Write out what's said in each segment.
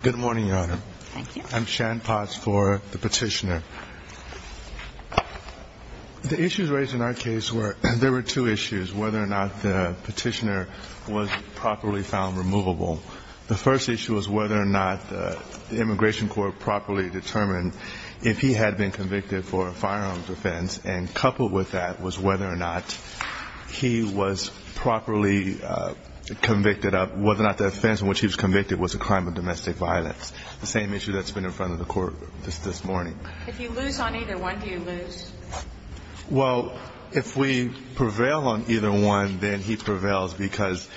Good morning, Your Honor. I'm Shan Potts for the petitioner. The issues raised in our case were, there were two issues, whether or not the petitioner was properly found removable. The first issue was whether or not the immigration court properly determined if he had been convicted for a firearms offense, and coupled with that was whether or not he was properly convicted of, whether or not the offense in which he was convicted was a crime of domestic violence. The same issue that's been in front of the court just this morning. If you lose on either one, do you lose? Well, if we prevail on either one, then he prevails because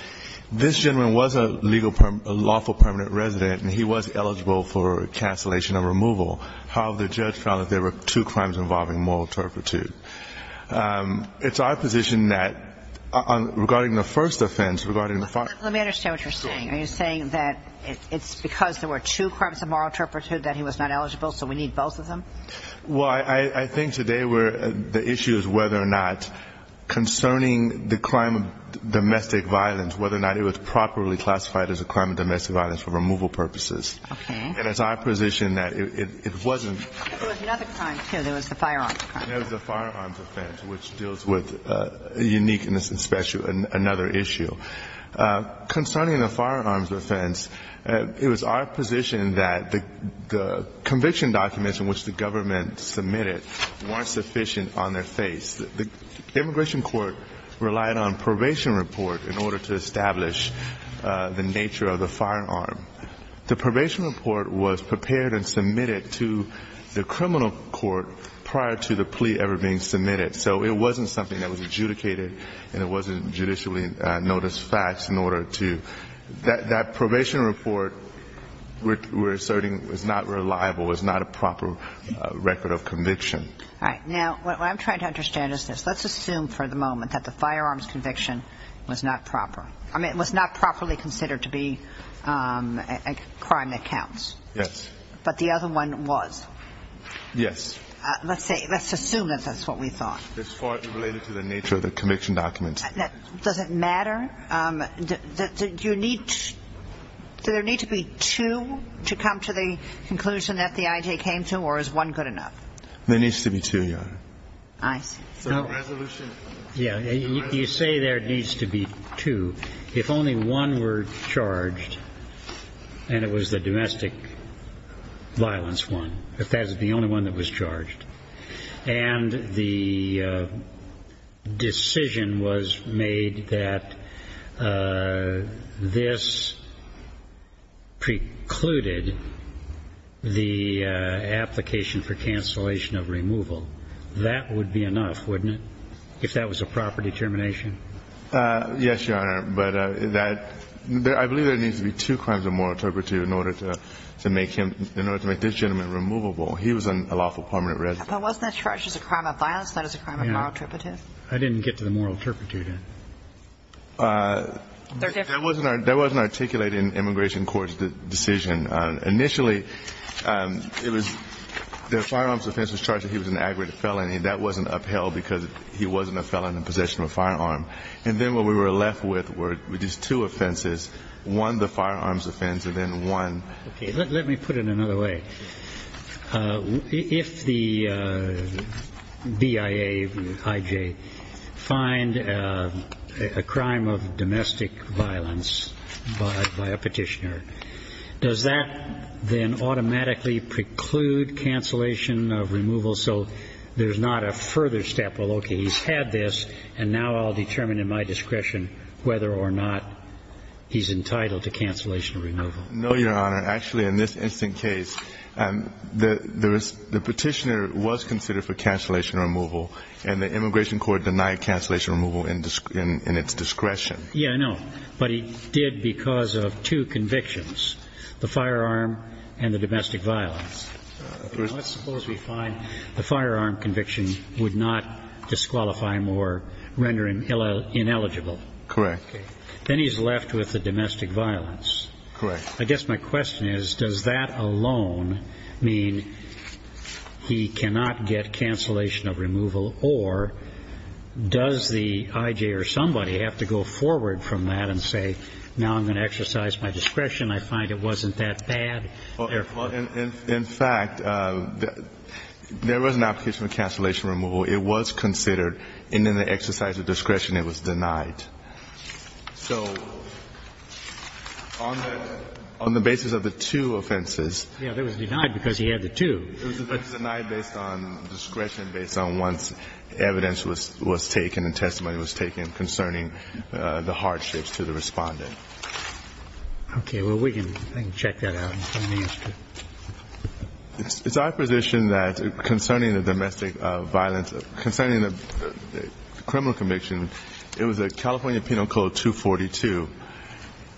this gentleman was a lawful permanent resident, and he was eligible for cancellation of removal. However, the judge found that there were two crimes involving moral turpitude. It's our position that, regarding the first offense, regarding the firearms- Let me understand what you're saying. Are you saying that it's because there were two crimes of moral turpitude that he was not eligible, so we need both of them? Well, I think today the issue is whether or not, concerning the crime of domestic violence, whether or not it was properly classified as a crime of domestic violence for removal purposes. Okay. And it's our position that it wasn't- There was another crime, too. There was the firearms crime. There was the firearms offense, which deals with uniqueness and special and another issue. Concerning the firearms offense, it was our position that the conviction documents in which the government submitted weren't sufficient on their face. The immigration court relied on probation report in order to establish the nature of the firearm. The probation report was prepared and submitted to the criminal court prior to the plea ever being submitted. So it wasn't something that was adjudicated and it wasn't judicially noticed facts in order to- That probation report we're asserting was not reliable, was not a proper record of conviction. All right. Now, what I'm trying to understand is this. Let's assume for the moment that the firearms conviction was not proper. I mean, it was not properly considered to be a crime that counts. Yes. But the other one was. Yes. Let's say- Let's assume that that's what we thought. As far as related to the nature of the conviction documents. Does it matter? Do you need- Do there need to be two to come to the conclusion that the I.J. came to or is one good enough? There needs to be two, Your Honor. I see. So resolution- Yeah. You say there needs to be two. If only one were charged and it was the domestic violence one, if that is the only one that was charged and the decision was made that this precluded the application for cancellation of removal, that would be enough, wouldn't it, if that was a proper determination? Yes, Your Honor. But that- I believe there needs to be two crimes of moral turpitude in order to make him- in order to make this gentleman removable. He was on a lawful permanent residence. But wasn't that charged as a crime of violence? That is a crime of moral turpitude? I didn't get to the moral turpitude. That wasn't articulated in immigration court's decision. Initially, it was- the firearms offense was charged that he was an aggravated felony and that wasn't upheld because he wasn't a felon in possession of a firearm. And then what we were left with were just two offenses, one the firearms offense and then one- Does that then automatically preclude cancellation of removal so there's not a further step, well, okay, he's had this and now I'll determine in my discretion whether or not he's entitled to cancellation of removal? No, Your Honor. Actually, in this instant case, the petitioner was considered for cancellation of removal and the immigration court denied cancellation of removal in its discretion. Yeah, I know. But he did because of two convictions, the firearm and the domestic violence. Let's suppose we find the firearm conviction would not disqualify him or render him ineligible. Correct. Then he's left with the domestic violence. Correct. I guess my question is does that alone mean he cannot get cancellation of removal or does the I.J. or somebody have to go forward from that and say, now I'm going to exercise my discretion, I find it wasn't that bad? In fact, there was an application for cancellation of removal. It was considered and in the exercise of discretion, it was denied. So on the basis of the two offenses. Yeah, it was denied because he had the two. It was denied based on discretion, based on once evidence was taken and testimony was taken concerning the hardships to the Respondent. Okay. Well, we can check that out. It's our position that concerning the domestic violence, concerning the criminal conviction, it was a California Penal Code 242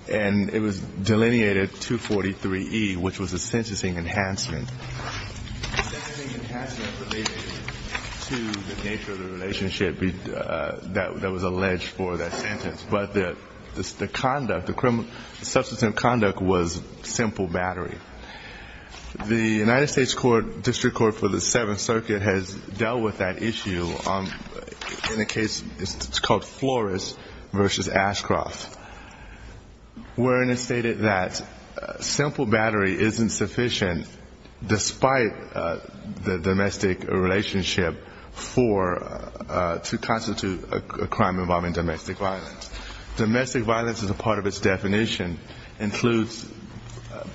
and it was delineated 243E, which was a sentencing enhancement. The sentencing enhancement related to the nature of the relationship that was alleged for that sentence. But the conduct, the criminal substantive conduct was simple battery. The United States District Court for the Seventh Circuit has dealt with that issue in a case called Flores v. Ashcroft, wherein it stated that simple battery isn't sufficient despite the domestic relationship to constitute a crime involving domestic violence. Domestic violence as a part of its definition includes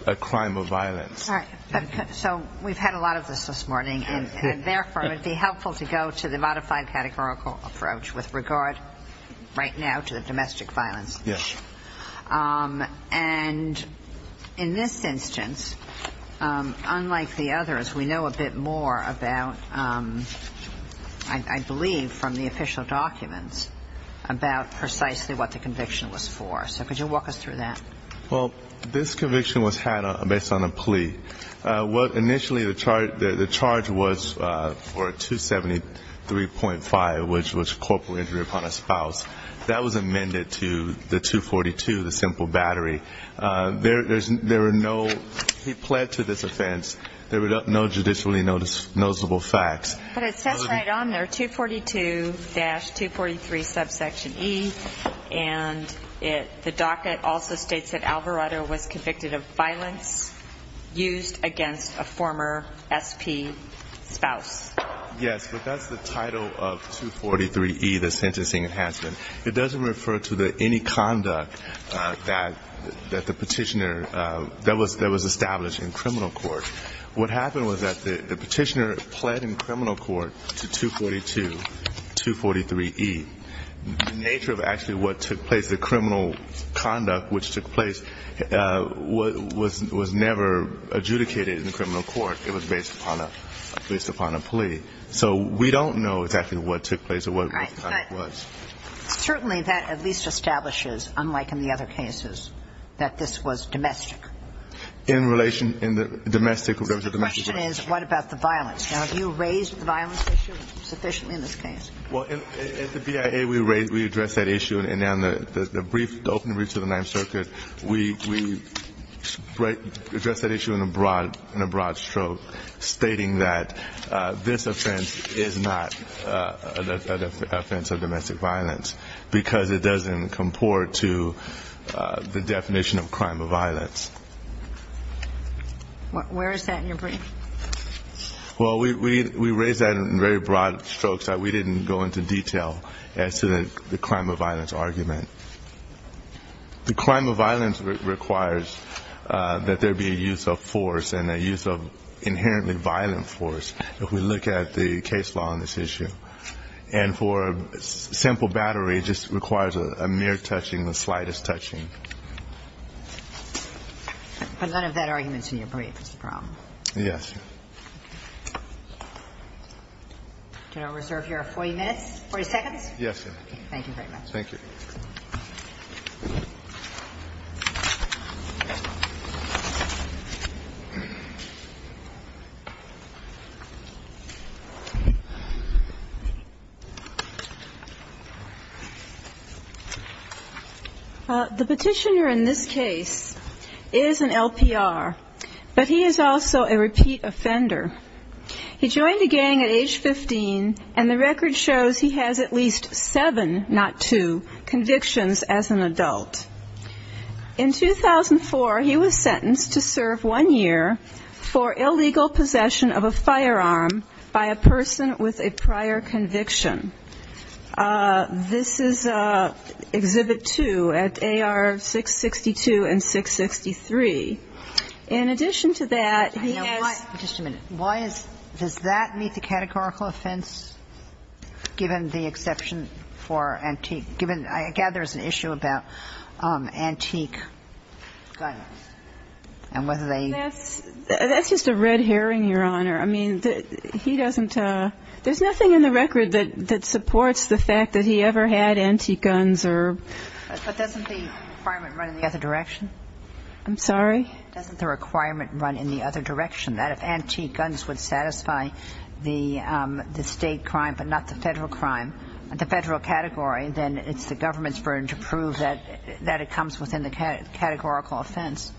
a crime of violence. All right. So we've had a lot of this this morning, and therefore, it would be helpful to go to the modified categorical approach with regard right now to the domestic violence. Yes. And in this instance, unlike the others, we know a bit more about, I believe, from the official documents, about precisely what the conviction was for. So could you walk us through that? Well, this conviction was had based on a plea. What initially the charge was for 273.5, which was corporal injury upon a spouse, that was amended to the 242, the simple battery. There were no ñ he pled to this offense. There were no judicially noticeable facts. But it says right on there 242-243 subsection E, and the docket also states that Alvarado was convicted of violence used against a former SP spouse. Yes, but that's the title of 243E, the sentencing enhancement. It doesn't refer to any conduct that the petitioner ñ that was established in criminal court. What happened was that the petitioner pled in criminal court to 242-243E. The nature of actually what took place, the criminal conduct which took place, was never adjudicated in criminal court. It was based upon a plea. So we don't know exactly what took place or what the conduct was. All right. But certainly that at least establishes, unlike in the other cases, that this was domestic. In relation ñ in the domestic ñ there was a domestic violence. So the question is, what about the violence? Now, have you raised the violence issue sufficiently in this case? Well, at the BIA, we addressed that issue. And then the brief ñ the opening brief to the Ninth Circuit, we addressed that issue in a broad ñ in a broad stroke, stating that this offense is not an offense of domestic violence because it doesn't comport to the definition of crime of violence. Where is that in your brief? Well, we raised that in very broad strokes. We didn't go into detail as to the crime of violence argument. The crime of violence requires that there be a use of force and a use of inherently violent force if we look at the case law on this issue. And for a simple battery, it just requires a mere touching, the slightest touching. But none of that argument is in your brief is the problem. Yes. Do I reserve your 40 minutes, 40 seconds? Yes, ma'am. Thank you very much. The petitioner in this case is an LPR, but he is also a repeat offender. He joined a gang at age 15, and the record shows he has at least seven, not two, sexual assault cases. He was sentenced to serve one year for illegal possession of a firearm by a person with a prior conviction. This is Exhibit 2 at AR-662 and 663. In addition to that, he has ñ Why is ñ does that meet the categorical offense, given the exception for antique ñ given ñ I gather there's an issue about antique guns and whether they ñ That's just a red herring, Your Honor. I mean, he doesn't ñ there's nothing in the record that supports the fact that he ever had antique guns or ñ But doesn't the requirement run in the other direction? I'm sorry? Doesn't the requirement run in the other direction, that if antique guns would satisfy the state crime but not the Federal crime ñ the Federal category, then it's the government's burden to prove that it comes within the categorical offense?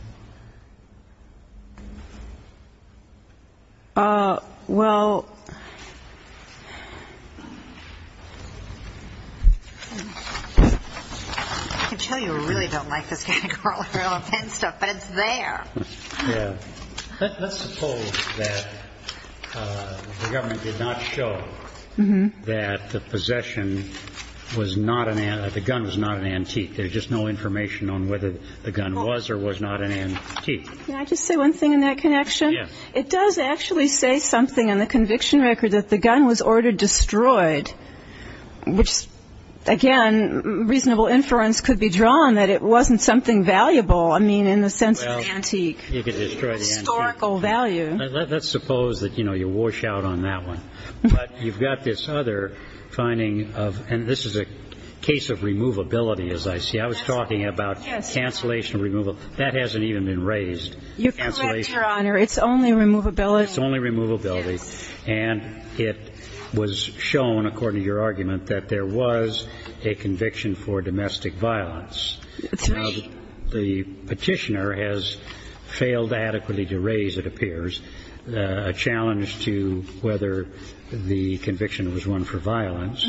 Well, I can tell you I really don't like this categorical offense stuff, but it's there. Yeah. Let's suppose that the government did not show that the possession was not an ñ that the gun was not an antique. There's just no information on whether the gun was or was not an antique. Can I just say one thing in that connection? Yes. It does actually say something in the conviction record that the gun was ordered destroyed, which, again, reasonable inference could be drawn that it wasn't something valuable. I mean, in the sense of antique. Well, you could destroy the antique. Historical value. Let's suppose that, you know, you wash out on that one. But you've got this other finding of ñ and this is a case of removability, as I see it. I was talking about cancellation removal. That hasn't even been raised. You're correct, Your Honor. It's only removability. It's only removability. Yes. And it was shown, according to your argument, that there was a conviction for domestic violence. Three. Now, the petitioner has failed adequately to raise, it appears, a challenge to whether the conviction was one for violence.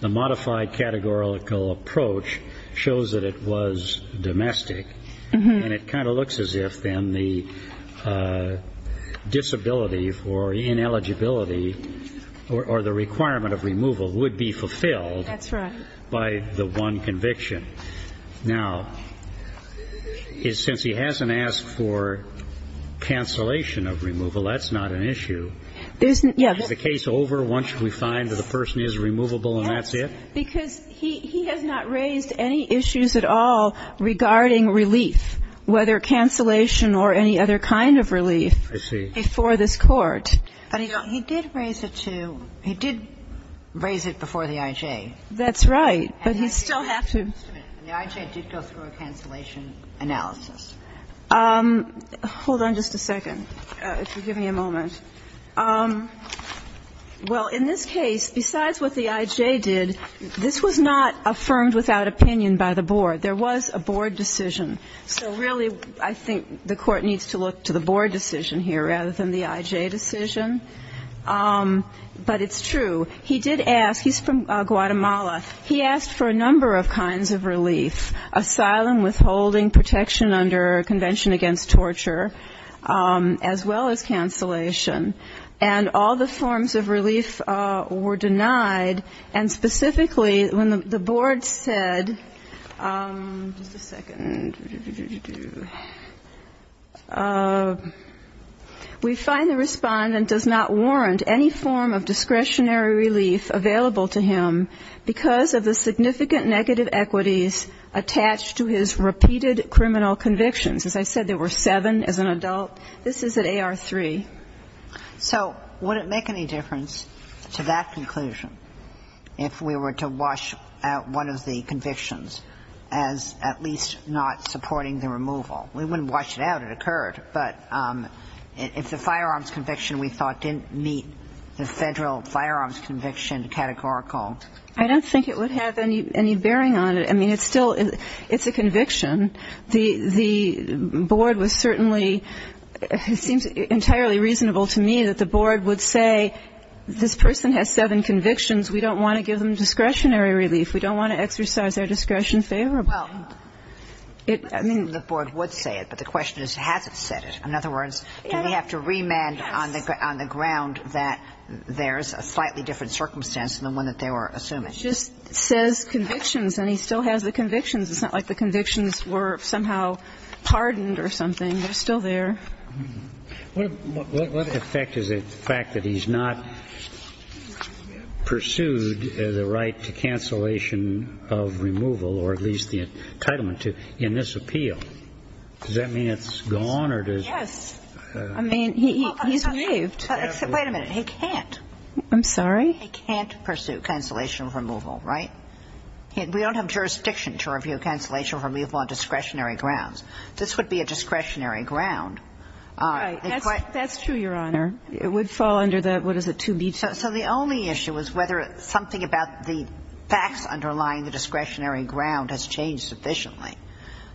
The modified categorical approach shows that it was domestic. And it kind of looks as if, then, the disability for ineligibility or the requirement of removal would be fulfilled by the one conviction. That's right. Now, since he hasn't asked for cancellation of removal, that's not an issue. Isn't ñ yeah. Is the case over once we find that the person is removable and that's it? Yes. Because he has not raised any issues at all regarding relief, whether cancellation or any other kind of relief before this Court. I see. But he did raise it to ñ he did raise it before the I.J. That's right. But he still has to ñ The I.J. did go through a cancellation analysis. Hold on just a second. If you'll give me a moment. Well, in this case, besides what the I.J. did, this was not affirmed without opinion by the board. There was a board decision. So really, I think the Court needs to look to the board decision here rather than the I.J. decision. But it's true. He did ask ñ he's from Guatemala. He asked for a number of kinds of relief, asylum, withholding, protection under Convention Against Torture, as well as cancellation. And all the forms of relief were denied. And specifically, when the board said ñ just a second. We find the respondent does not warrant any form of discretionary relief available to him because of the significant negative equities attached to his repeated criminal convictions. As I said, there were seven as an adult. This is at AR-3. So would it make any difference to that conclusion if we were to wash out one of the convictions as at least not supporting the removal? We wouldn't wash it out. It occurred. But if the firearms conviction we thought didn't meet the Federal firearms conviction categorical ñ I don't think it would have any bearing on it. I mean, it's still ñ it's a conviction. The board was certainly ñ it seems entirely reasonable to me that the board would say this person has seven convictions. We don't want to give them discretionary relief. We don't want to exercise their discretion favorably. Well, I mean, the board would say it. But the question is has it said it? In other words, do we have to remand on the ground that there's a slightly different circumstance than the one that they were assuming? It just says convictions, and he still has the convictions. It's not like the convictions were somehow pardoned or something. They're still there. What effect is it, the fact that he's not pursued the right to cancellation of removal or at least the entitlement to in this appeal? Does that mean it's gone or does ñ Yes. I mean, he's waived. Wait a minute. He can't. I'm sorry? He can't pursue cancellation of removal, right? We don't have jurisdiction to review cancellation of removal on discretionary grounds. This would be a discretionary ground. Right. That's true, Your Honor. It would fall under the ñ what is it, 2B2? So the only issue is whether something about the facts underlying the discretionary ground has changed sufficiently,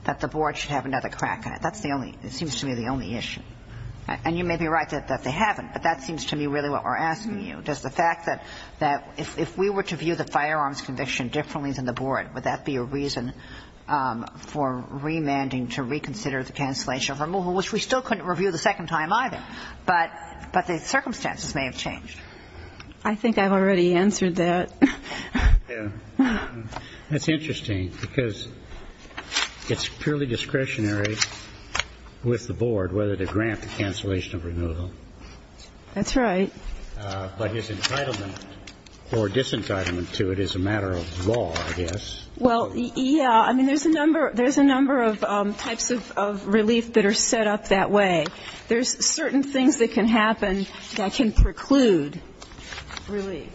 that the board should have another crack at it. That's the only ñ it seems to me the only issue. And you may be right that they haven't, but that seems to me really what we're asking you. Does the fact that if we were to view the firearms conviction differently than the board, would that be a reason for remanding to reconsider the cancellation of removal, which we still couldn't review the second time either? But the circumstances may have changed. I think I've already answered that. Yeah. That's interesting because it's purely discretionary with the board whether to grant the cancellation of removal. That's right. But his entitlement or disentitlement to it is a matter of law, I guess. Well, yeah. I mean, there's a number of ñ there's a number of types of relief that are set up that way. There's certain things that can happen that can preclude relief.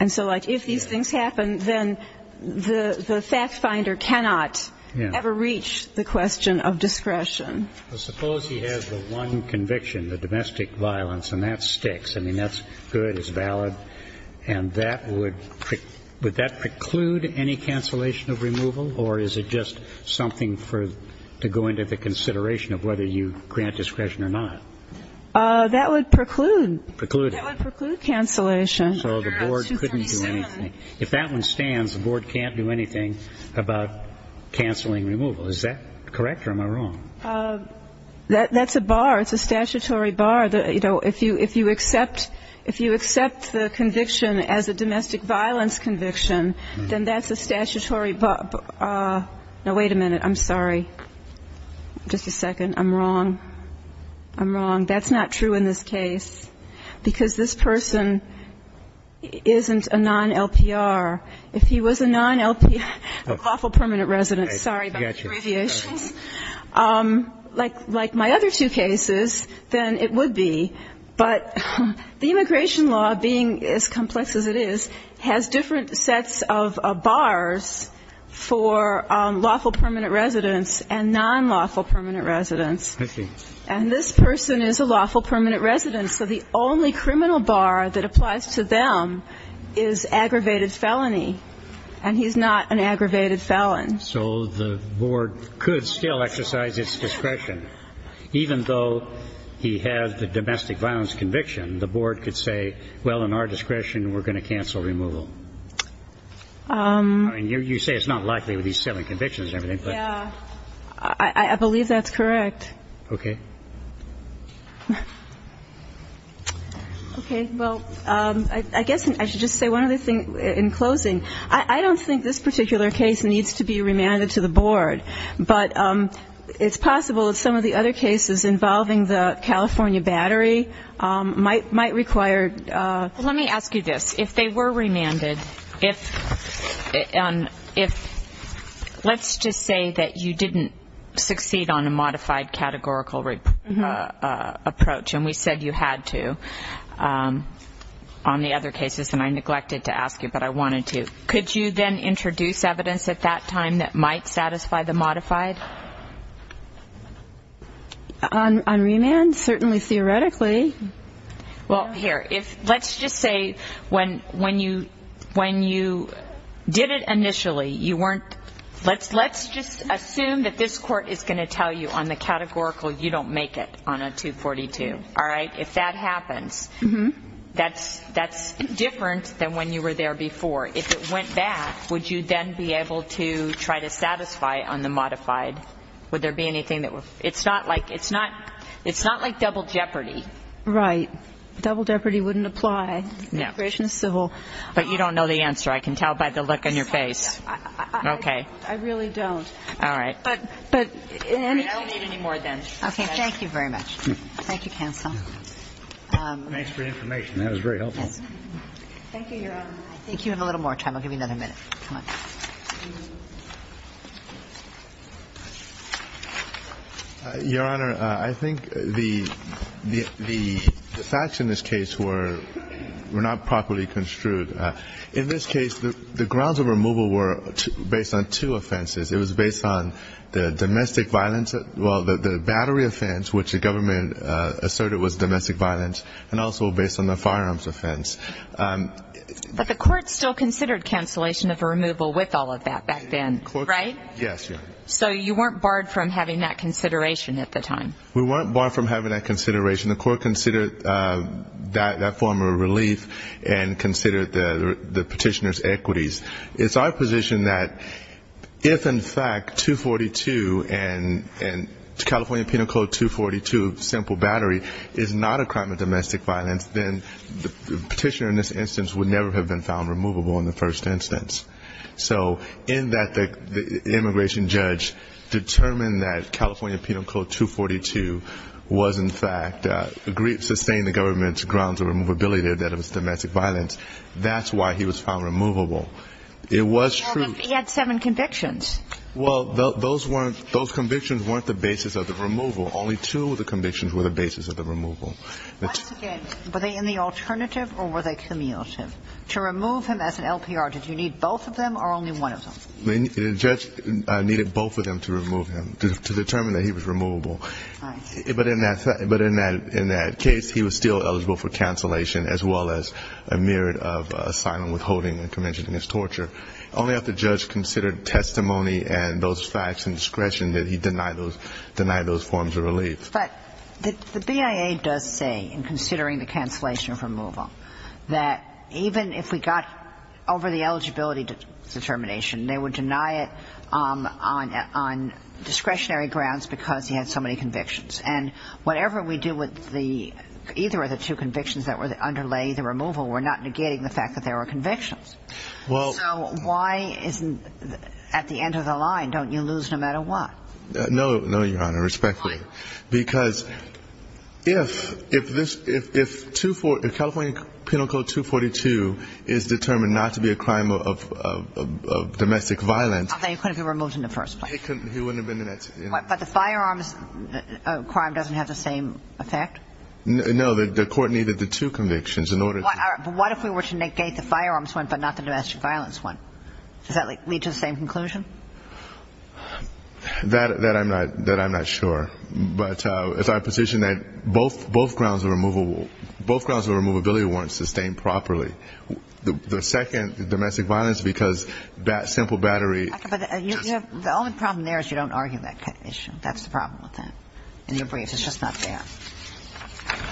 And so, like, if these things happen, then the fact finder cannot ever reach the question of discretion. Well, suppose he has the one conviction, the domestic violence, and that sticks. I mean, that's good. It's valid. And that would ñ would that preclude any cancellation of removal? Or is it just something for ñ to go into the consideration of whether you grant discretion or not? That would preclude. Preclude. That would preclude cancellation. So the board couldn't do anything. If that one stands, the board can't do anything about canceling removal. Is that correct or am I wrong? That's a bar. It's a statutory bar. You know, if you accept the conviction as a domestic violence conviction, then that's a statutory ñ no, wait a minute. I'm sorry. Just a second. I'm wrong. I'm wrong. That's not true in this case, because this person isn't a non-LPR. If he was a non-LPR ñ lawful permanent resident. Sorry about the abbreviations. Like my other two cases, then it would be. But the immigration law, being as complex as it is, has different sets of bars for lawful permanent residents and non-lawful permanent residents. I see. And this person is a lawful permanent resident. So the only criminal bar that applies to them is aggravated felony. And he's not an aggravated felon. So the board could still exercise its discretion. Even though he has the domestic violence conviction, the board could say, well, in our discretion, we're going to cancel removal. I mean, you say it's not likely with these seven convictions and everything, but. Yeah. I believe that's correct. Okay. Okay. Well, I guess I should just say one other thing in closing. I don't think this particular case needs to be remanded to the board. But it's possible that some of the other cases involving the California battery might require. Let me ask you this. If they were remanded, if ñ let's just say that you didn't succeed on a modified categorical approach, and we said you had to on the other cases, and I neglected to ask you, but I wanted to. Could you then introduce evidence at that time that might satisfy the modified? On remand? Certainly, theoretically. Well, here. If ñ let's just say when you did it initially, you weren't ñ let's just assume that this court is going to tell you on the categorical you don't make it on a 242. All right? If that happens, that's ñ that's different than when you were there before. If it went back, would you then be able to try to satisfy on the modified? Would there be anything that would ñ it's not like ñ it's not ñ it's not like double jeopardy. Right. Double jeopardy wouldn't apply. No. Immigration is civil. But you don't know the answer. I can tell by the look on your face. Okay. I really don't. All right. But in any case ñ All right. I don't need any more then. Okay. Thank you very much. Thank you, counsel. Thanks for the information. That was very helpful. Yes. Thank you, Your Honor. I think you have a little more time. I'll give you another minute. Come on. Your Honor, I think the facts in this case were not properly construed. In this case, the grounds of removal were based on two offenses. It was based on the domestic violence ñ well, the battery offense, which the government asserted was domestic violence, and also based on the firearms offense. But the court still considered cancellation of a removal with all of that back then, right? Yes, Your Honor. So you weren't barred from having that consideration at the time? We weren't barred from having that consideration. The court considered that form of relief and considered the petitioner's equities. It's our position that if, in fact, 242 and California Penal Code 242, simple battery, is not a crime of domestic violence, then the petitioner in this instance would never have been found removable in the first instance. So in that the immigration judge determined that California Penal Code 242 was, in fact, sustained the government's grounds of removability that it was domestic violence. That's why he was found removable. It was true. He had seven convictions. Well, those weren't ñ those convictions weren't the basis of the removal. Only two of the convictions were the basis of the removal. Once again, were they in the alternative or were they cumulative? To remove him as an LPR, did you need both of them or only one of them? The judge needed both of them to remove him, to determine that he was removable. Right. But in that case, he was still eligible for cancellation as well as a mere standard of asylum withholding and convention against torture. Only if the judge considered testimony and those facts and discretion did he deny those forms of relief. But the BIA does say, in considering the cancellation of removal, that even if we got over the eligibility determination, they would deny it on discretionary grounds because he had so many convictions. And whatever we do with the ñ either of the two convictions that underlay the fact that there were convictions. Well ñ So why isn't ñ at the end of the line, don't you lose no matter what? No, Your Honor. Respectfully. Why? Because if this ñ if California Penal Code 242 is determined not to be a crime of domestic violence ñ Then he couldn't have been removed in the first place. He wouldn't have been in that ñ But the firearms crime doesn't have the same effect? No. The court needed the two convictions in order to ñ But what if we were to negate the firearms one but not the domestic violence one? Does that lead to the same conclusion? That I'm not ñ that I'm not sure. But it's our position that both grounds of removal ñ both grounds of removability weren't sustained properly. The second, domestic violence, because that simple battery just ñ Okay. But the only problem there is you don't argue that issue. That's the problem with that. In your briefs. It's just not there.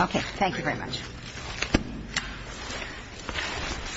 Okay. Thank you very much. Thank you. Thank you. Thank you.